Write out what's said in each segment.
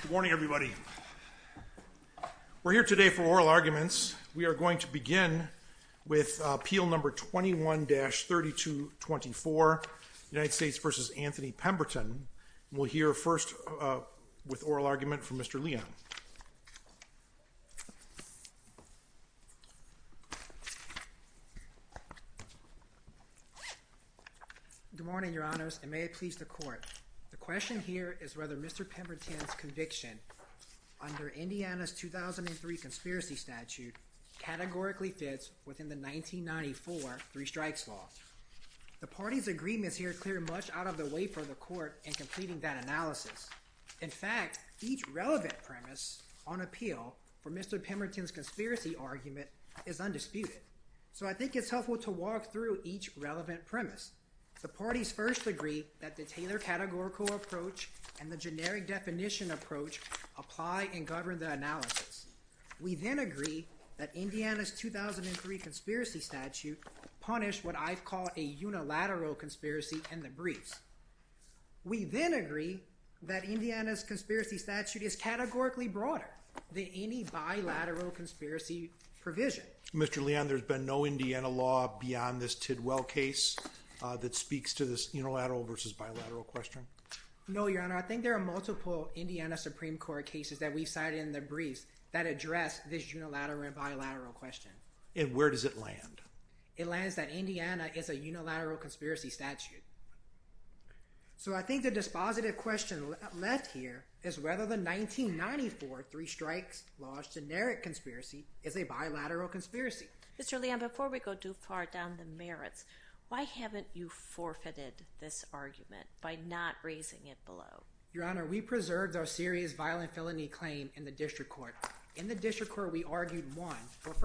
Good morning, everybody. We're here today for oral arguments. We are going to begin with Appeal No. 21-3224, United States v. Anthony Pemberton. We'll hear first with oral argument from Mr. Leon. Good morning, Your Honors, and may it please the Court. The question here is whether Mr. Pemberton's conviction under Indiana's 2003 conspiracy statute categorically fits within the 1994 Three Strikes Law. The party's agreements here clear much out of the way for the Court in completing that analysis. In fact, each relevant premise on appeal for Mr. Pemberton's conspiracy argument is undisputed. So I think it's helpful to walk through each relevant premise. The parties first agree that the Taylor categorical approach and the generic definition approach apply and govern the analysis. We then agree that Indiana's 2003 conspiracy statute punished what I've called a unilateral conspiracy in the briefs. We then agree that Indiana's conspiracy statute is categorically broader than any bilateral conspiracy provision. Mr. Leon, there's been no Indiana law beyond this Tidwell case that speaks to this unilateral versus bilateral question? No, Your Honor. I think there are multiple Indiana Supreme Court cases that we've cited in the briefs that address this unilateral and bilateral question. And where does it land? It lands that Indiana is a unilateral conspiracy statute. So I think the dispositive question left here is whether the 1994 Three Strikes Law's generic conspiracy is a bilateral conspiracy. Mr. Leon, before we go too far down the merits, why haven't you forfeited this argument by not raising it below? Your Honor, we preserved our serious violent felony claim in the District Court. In the District Court, we argued one. And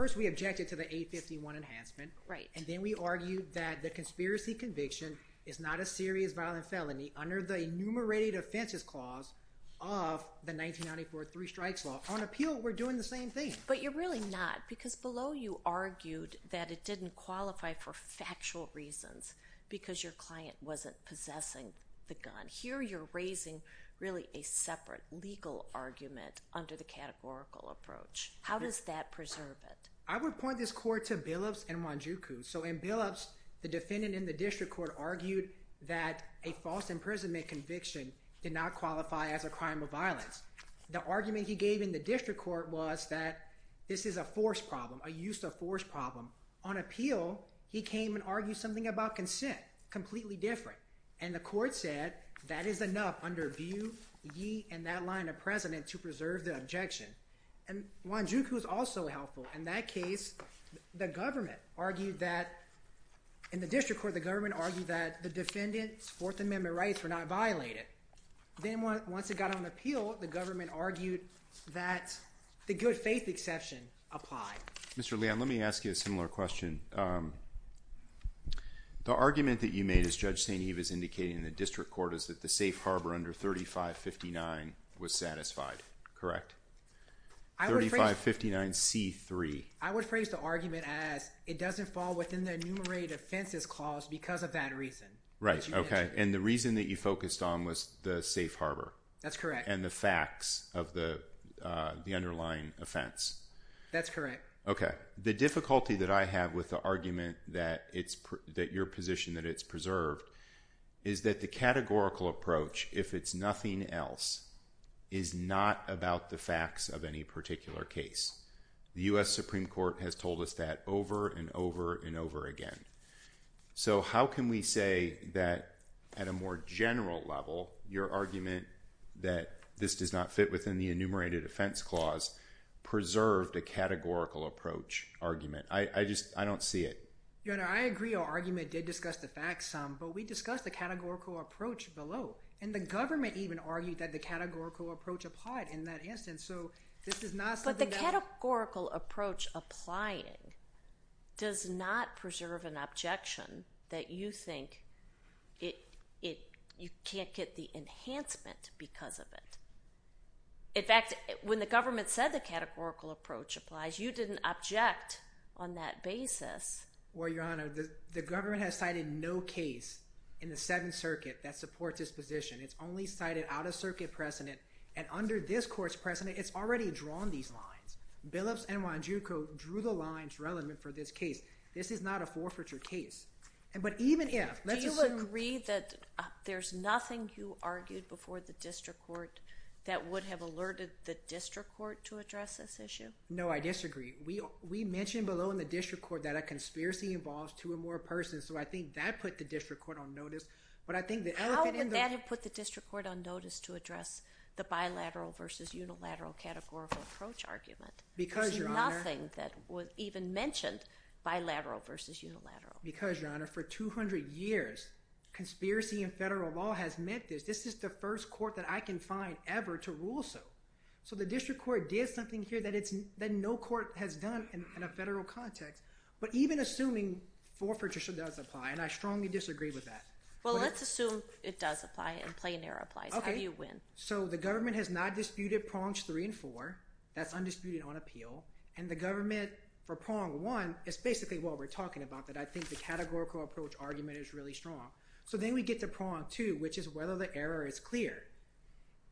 then we argued that the conspiracy conviction is not a serious violent felony under the enumerated offenses clause of the 1994 Three Strikes Law. On appeal, we're doing the same thing. But you're really not because below you argued that it didn't qualify for factual reasons because your client wasn't possessing the gun. Here you're raising really a separate legal argument under the categorical approach. How does that preserve it? I would point this court to Billups and Wanjuku. So in Billups, the defendant in the District Court argued that a false imprisonment conviction did not qualify as a crime of violence. The argument he gave in the District Court was that this is a force problem, a use of force problem. On appeal, he came and argued something about consent, completely different. And the court said that is enough under view, ye, and that line of precedent to preserve the objection. And Wanjuku is also helpful. In that case, the government argued that in the District Court, the government argued that the defendant's Fourth Amendment rights were not violated. Then once it got on appeal, the government argued that the good faith exception applied. Mr. Leon, let me ask you a similar question. The argument that you made as Judge St. Eve is indicating in the District Court is that the safe harbor under 3559 was satisfied, correct? 3559C3. I would phrase the argument as it doesn't fall within the enumerated offenses clause because of that reason. Right, okay. And the reason that you focused on was the safe harbor. That's correct. And the facts of the underlying offense. That's correct. Okay, the difficulty that I have with the argument that your position that it's preserved is that the categorical approach, if it's nothing else, is not about the facts of any particular case. The U.S. Supreme Court has told us that over and over and over again. So how can we say that at a more general level, your argument that this does not fit within the enumerated offense clause preserved a categorical approach argument? I just, I don't see it. Your Honor, I agree our argument did discuss the facts some, but we discussed the categorical approach below. And the government even argued that the categorical approach applied in that instance. But the categorical approach applying does not preserve an objection that you think you can't get the enhancement because of it. In fact, when the government said the categorical approach applies, you didn't object on that basis. Well, Your Honor, the government has cited no case in the Seventh Circuit that supports this position. It's only cited out-of-circuit precedent. And under this court's precedent, it's already drawn these lines. Billups and Wanjuku drew the lines relevant for this case. This is not a forfeiture case. But even if— Do you agree that there's nothing you argued before the district court that would have alerted the district court to address this issue? No, I disagree. We mentioned below in the district court that a conspiracy involves two or more persons. So I think that put the district court on notice. How would that have put the district court on notice to address the bilateral versus unilateral categorical approach argument? Because, Your Honor— There's nothing that was even mentioned, bilateral versus unilateral. Because, Your Honor, for 200 years, conspiracy in federal law has meant this. This is the first court that I can find ever to rule so. So the district court did something here that no court has done in a federal context. But even assuming forfeiture does apply, and I strongly disagree with that. Well, let's assume it does apply and plain error applies. How do you win? So the government has not disputed prongs three and four. That's undisputed on appeal. And the government, for prong one, is basically what we're talking about, that I think the categorical approach argument is really strong. So then we get to prong two, which is whether the error is clear.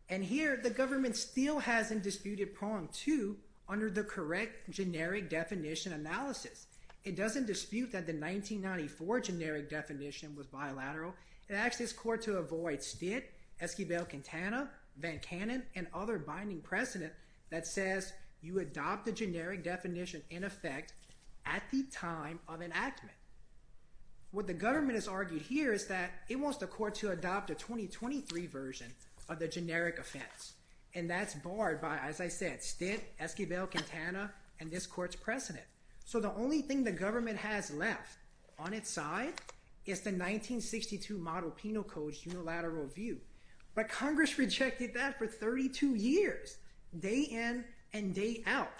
And here the government still hasn't disputed prong two under the correct generic definition analysis. It doesn't dispute that the 1994 generic definition was bilateral. It asks this court to avoid Stitt, Esquivel-Quintana, Van Cannon, and other binding precedent that says you adopt the generic definition in effect at the time of enactment. What the government has argued here is that it wants the court to adopt a 2023 version of the generic offense. And that's barred by, as I said, Stitt, Esquivel-Quintana, and this court's precedent. So the only thing the government has left on its side is the 1962 Model Penal Code's unilateral view. But Congress rejected that for 32 years, day in and day out.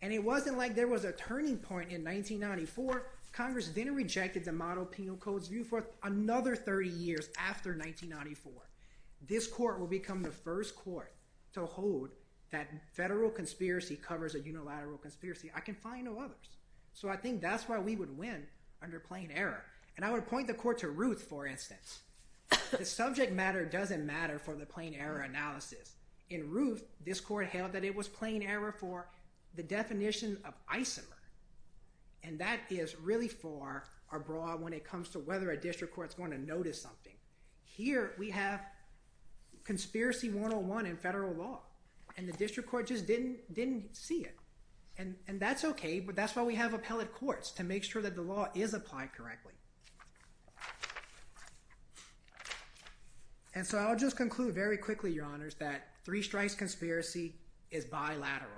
And it wasn't like there was a turning point in 1994. Congress then rejected the Model Penal Code's view for another 30 years after 1994. This court will become the first court to hold that federal conspiracy covers a unilateral conspiracy. I can find no others. So I think that's why we would win under plain error. And I would point the court to Ruth, for instance. The subject matter doesn't matter for the plain error analysis. In Ruth, this court held that it was plain error for the definition of isomer. And that is really for a broad when it comes to whether a district court's going to notice something. Here we have conspiracy 101 in federal law. And the district court just didn't see it. And that's okay. But that's why we have appellate courts to make sure that the law is applied correctly. And so I'll just conclude very quickly, Your Honors, that three strikes conspiracy is bilateral.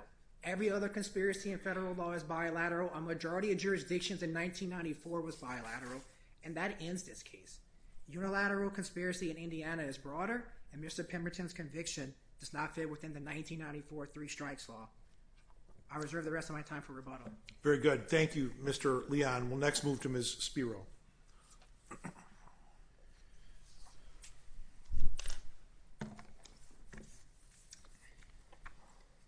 Every other conspiracy in federal law is bilateral. A majority of jurisdictions in 1994 was bilateral. And that ends this case. Unilateral conspiracy in Indiana is broader. And Mr. Pemberton's conviction does not fit within the 1994 three strikes law. I reserve the rest of my time for rebuttal. Very good. Thank you, Mr. Leon. We'll next move to Ms. Spiro.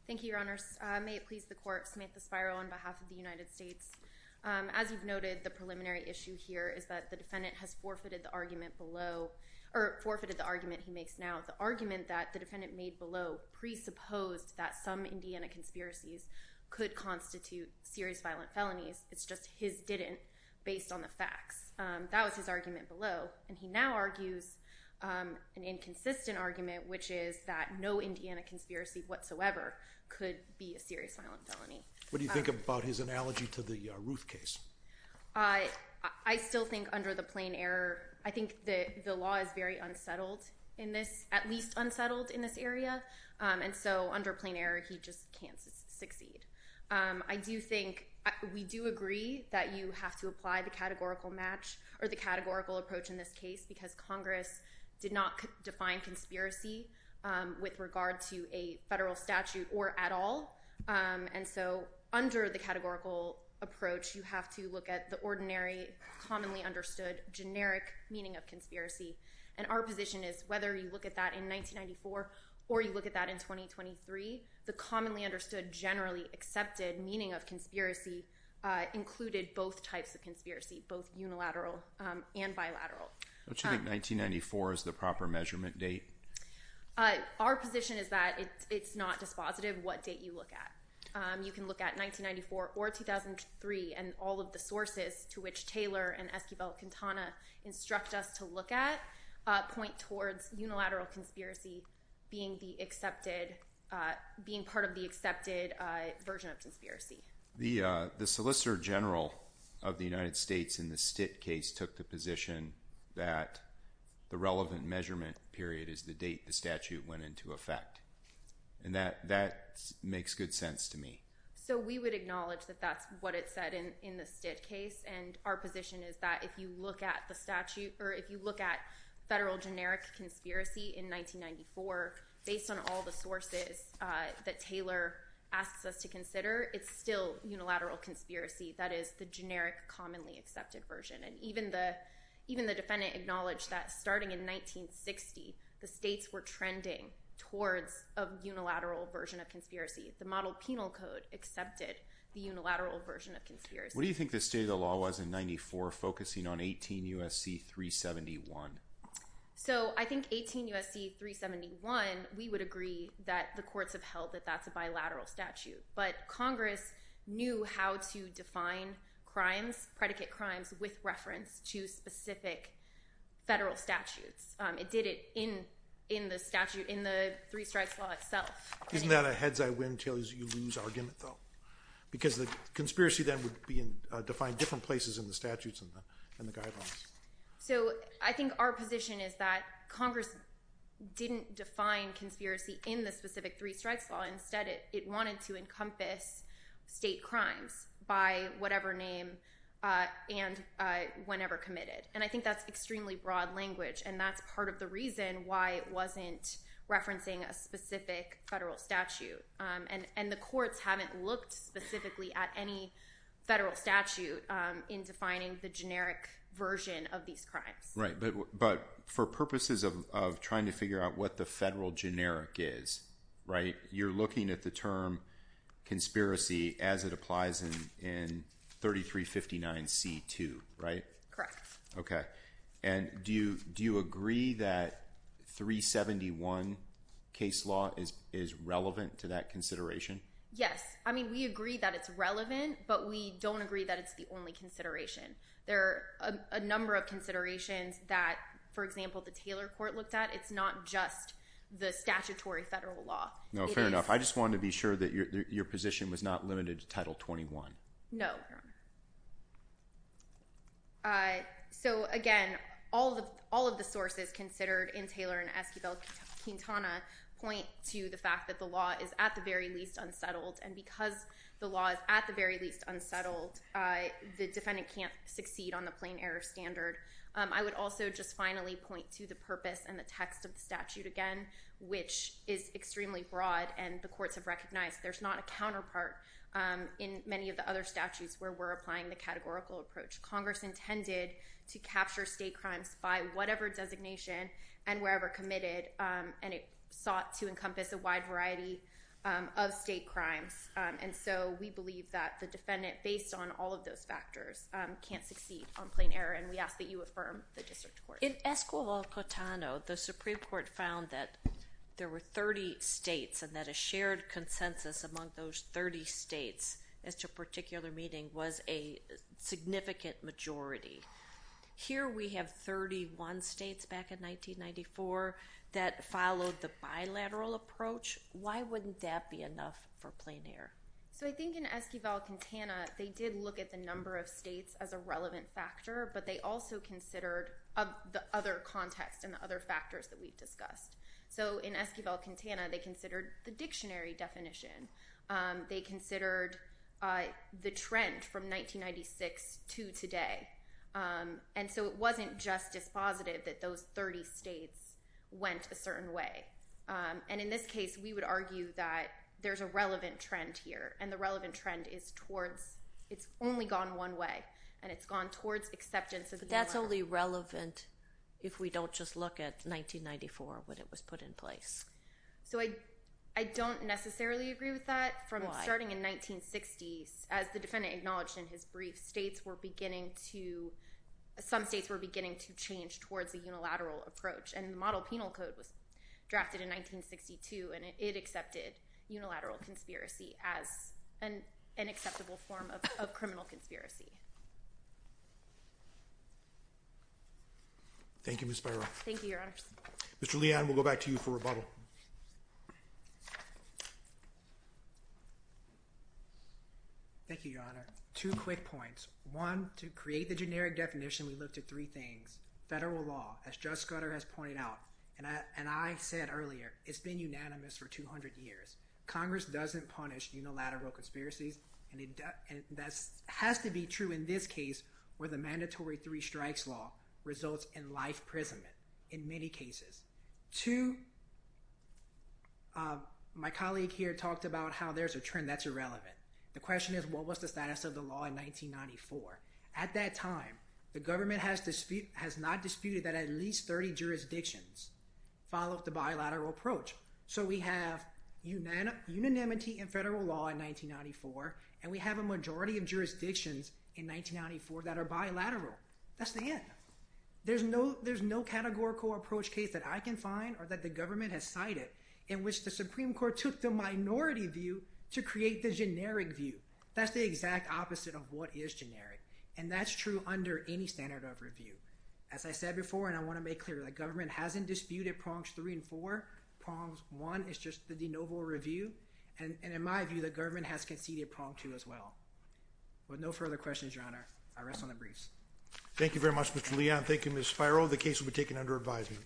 Thank you, Your Honors. May it please the court, Samantha Spiro on behalf of the United States. As you've noted, the preliminary issue here is that the defendant has forfeited the argument below or forfeited the argument he makes now. The argument that the defendant made below presupposed that some Indiana conspiracies could constitute serious violent felonies. It's just his didn't based on the facts. That was his argument below. And he now argues an inconsistent argument, which is that no Indiana conspiracy whatsoever could be a serious violent felony. What do you think about his analogy to the Ruth case? I still think under the plain error, I think the law is very unsettled in this, at least unsettled in this area. And so under plain error, he just can't succeed. I do think we do agree that you have to apply the categorical match or the categorical approach in this case, because Congress did not define conspiracy with regard to a federal statute or at all. And so under the categorical approach, you have to look at the ordinary, commonly understood, generic meaning of conspiracy. And our position is whether you look at that in 1994 or you look at that in 2023, the commonly understood, generally accepted meaning of conspiracy included both types of conspiracy, both unilateral and bilateral. Don't you think 1994 is the proper measurement date? Our position is that it's not dispositive what date you look at. You can look at 1994 or 2003, and all of the sources to which Taylor and Esquivel-Quintana instruct us to look at, point towards unilateral conspiracy being the accepted, being part of the accepted version of conspiracy. The Solicitor General of the United States in the Stitt case took the position that the relevant measurement period is the date the statute went into effect. And that makes good sense to me. So we would acknowledge that that's what it said in the Stitt case, and our position is that if you look at the statute or if you look at federal generic conspiracy in 1994, based on all the sources that Taylor asks us to consider, it's still unilateral conspiracy. That is the generic, commonly accepted version. And even the defendant acknowledged that starting in 1960, the states were trending towards a unilateral version of conspiracy. The Model Penal Code accepted the unilateral version of conspiracy. What do you think the state of the law was in 1994 focusing on 18 U.S.C. 371? So I think 18 U.S.C. 371, we would agree that the courts have held that that's a bilateral statute. But Congress knew how to define crimes, predicate crimes, with reference to specific federal statutes. It did it in the statute, in the Three Strikes Law itself. Isn't that a heads-I-win-tails-you-lose argument, though? Because the conspiracy then would be defined different places in the statutes and the guidelines. So I think our position is that Congress didn't define conspiracy in the specific Three Strikes Law. Instead, it wanted to encompass state crimes by whatever name and whenever committed. And I think that's extremely broad language, and that's part of the reason why it wasn't referencing a specific federal statute. And the courts haven't looked specifically at any federal statute in defining the generic version of these crimes. Right, but for purposes of trying to figure out what the federal generic is, right, you're looking at the term conspiracy as it applies in 3359C2, right? Correct. Okay. And do you agree that 371 case law is relevant to that consideration? Yes. I mean, we agree that it's relevant, but we don't agree that it's the only consideration. There are a number of considerations that, for example, the Taylor Court looked at. It's not just the statutory federal law. No, fair enough. I just wanted to be sure that your position was not limited to Title 21. No, Your Honor. So, again, all of the sources considered in Taylor and Esquivel-Quintana point to the fact that the law is at the very least unsettled, and because the law is at the very least unsettled, the defendant can't succeed on the plain error standard. I would also just finally point to the purpose and the text of the statute again, which is extremely broad, and the courts have recognized there's not a counterpart in many of the other statutes where we're applying the categorical approach. Congress intended to capture state crimes by whatever designation and wherever committed, and it sought to encompass a wide variety of state crimes. And so we believe that the defendant, based on all of those factors, can't succeed on plain error, and we ask that you affirm the district court. In Esquivel-Quintana, the Supreme Court found that there were 30 states and that a shared consensus among those 30 states as to particular meeting was a significant majority. Here we have 31 states back in 1994 that followed the bilateral approach. Why wouldn't that be enough for plain error? So I think in Esquivel-Quintana, they did look at the number of states as a relevant factor, but they also considered the other context and the other factors that we've discussed. So in Esquivel-Quintana, they considered the dictionary definition. They considered the trend from 1996 to today, and so it wasn't just as positive that those 30 states went a certain way. And in this case, we would argue that there's a relevant trend here, and the relevant trend is towards it's only gone one way, and it's gone towards acceptance of the uniform. But that's only relevant if we don't just look at 1994 when it was put in place. So I don't necessarily agree with that. Why? Starting in 1960, as the defendant acknowledged in his brief, some states were beginning to change towards a unilateral approach, and the model penal code was drafted in 1962, and it accepted unilateral conspiracy as an acceptable form of criminal conspiracy. Thank you, Ms. Byron. Thank you, Your Honor. Mr. Leon, we'll go back to you for rebuttal. Thank you, Your Honor. Two quick points. One, to create the generic definition, we looked at three things. Federal law, as Judge Scudder has pointed out, and I said earlier, it's been unanimous for 200 years. Congress doesn't punish unilateral conspiracies, and that has to be true in this case where the mandatory three strikes law results in life imprisonment in many cases. Two, my colleague here talked about how there's a trend that's irrelevant. The question is, what was the status of the law in 1994? At that time, the government has not disputed that at least 30 jurisdictions followed the bilateral approach. So we have unanimity in federal law in 1994, and we have a majority of jurisdictions in 1994 that are bilateral. That's the end. There's no categorical approach case that I can find or that the government has cited in which the Supreme Court took the minority view to create the generic view. That's the exact opposite of what is generic, and that's true under any standard of review. As I said before, and I want to make clear, the government hasn't disputed prongs three and four. Prongs one is just the de novo review, and in my view, the government has conceded prong two as well. With no further questions, Your Honor, I rest on the briefs. Thank you very much, Mr. Leon. Thank you, Ms. Spiro. The case will be taken under advisement.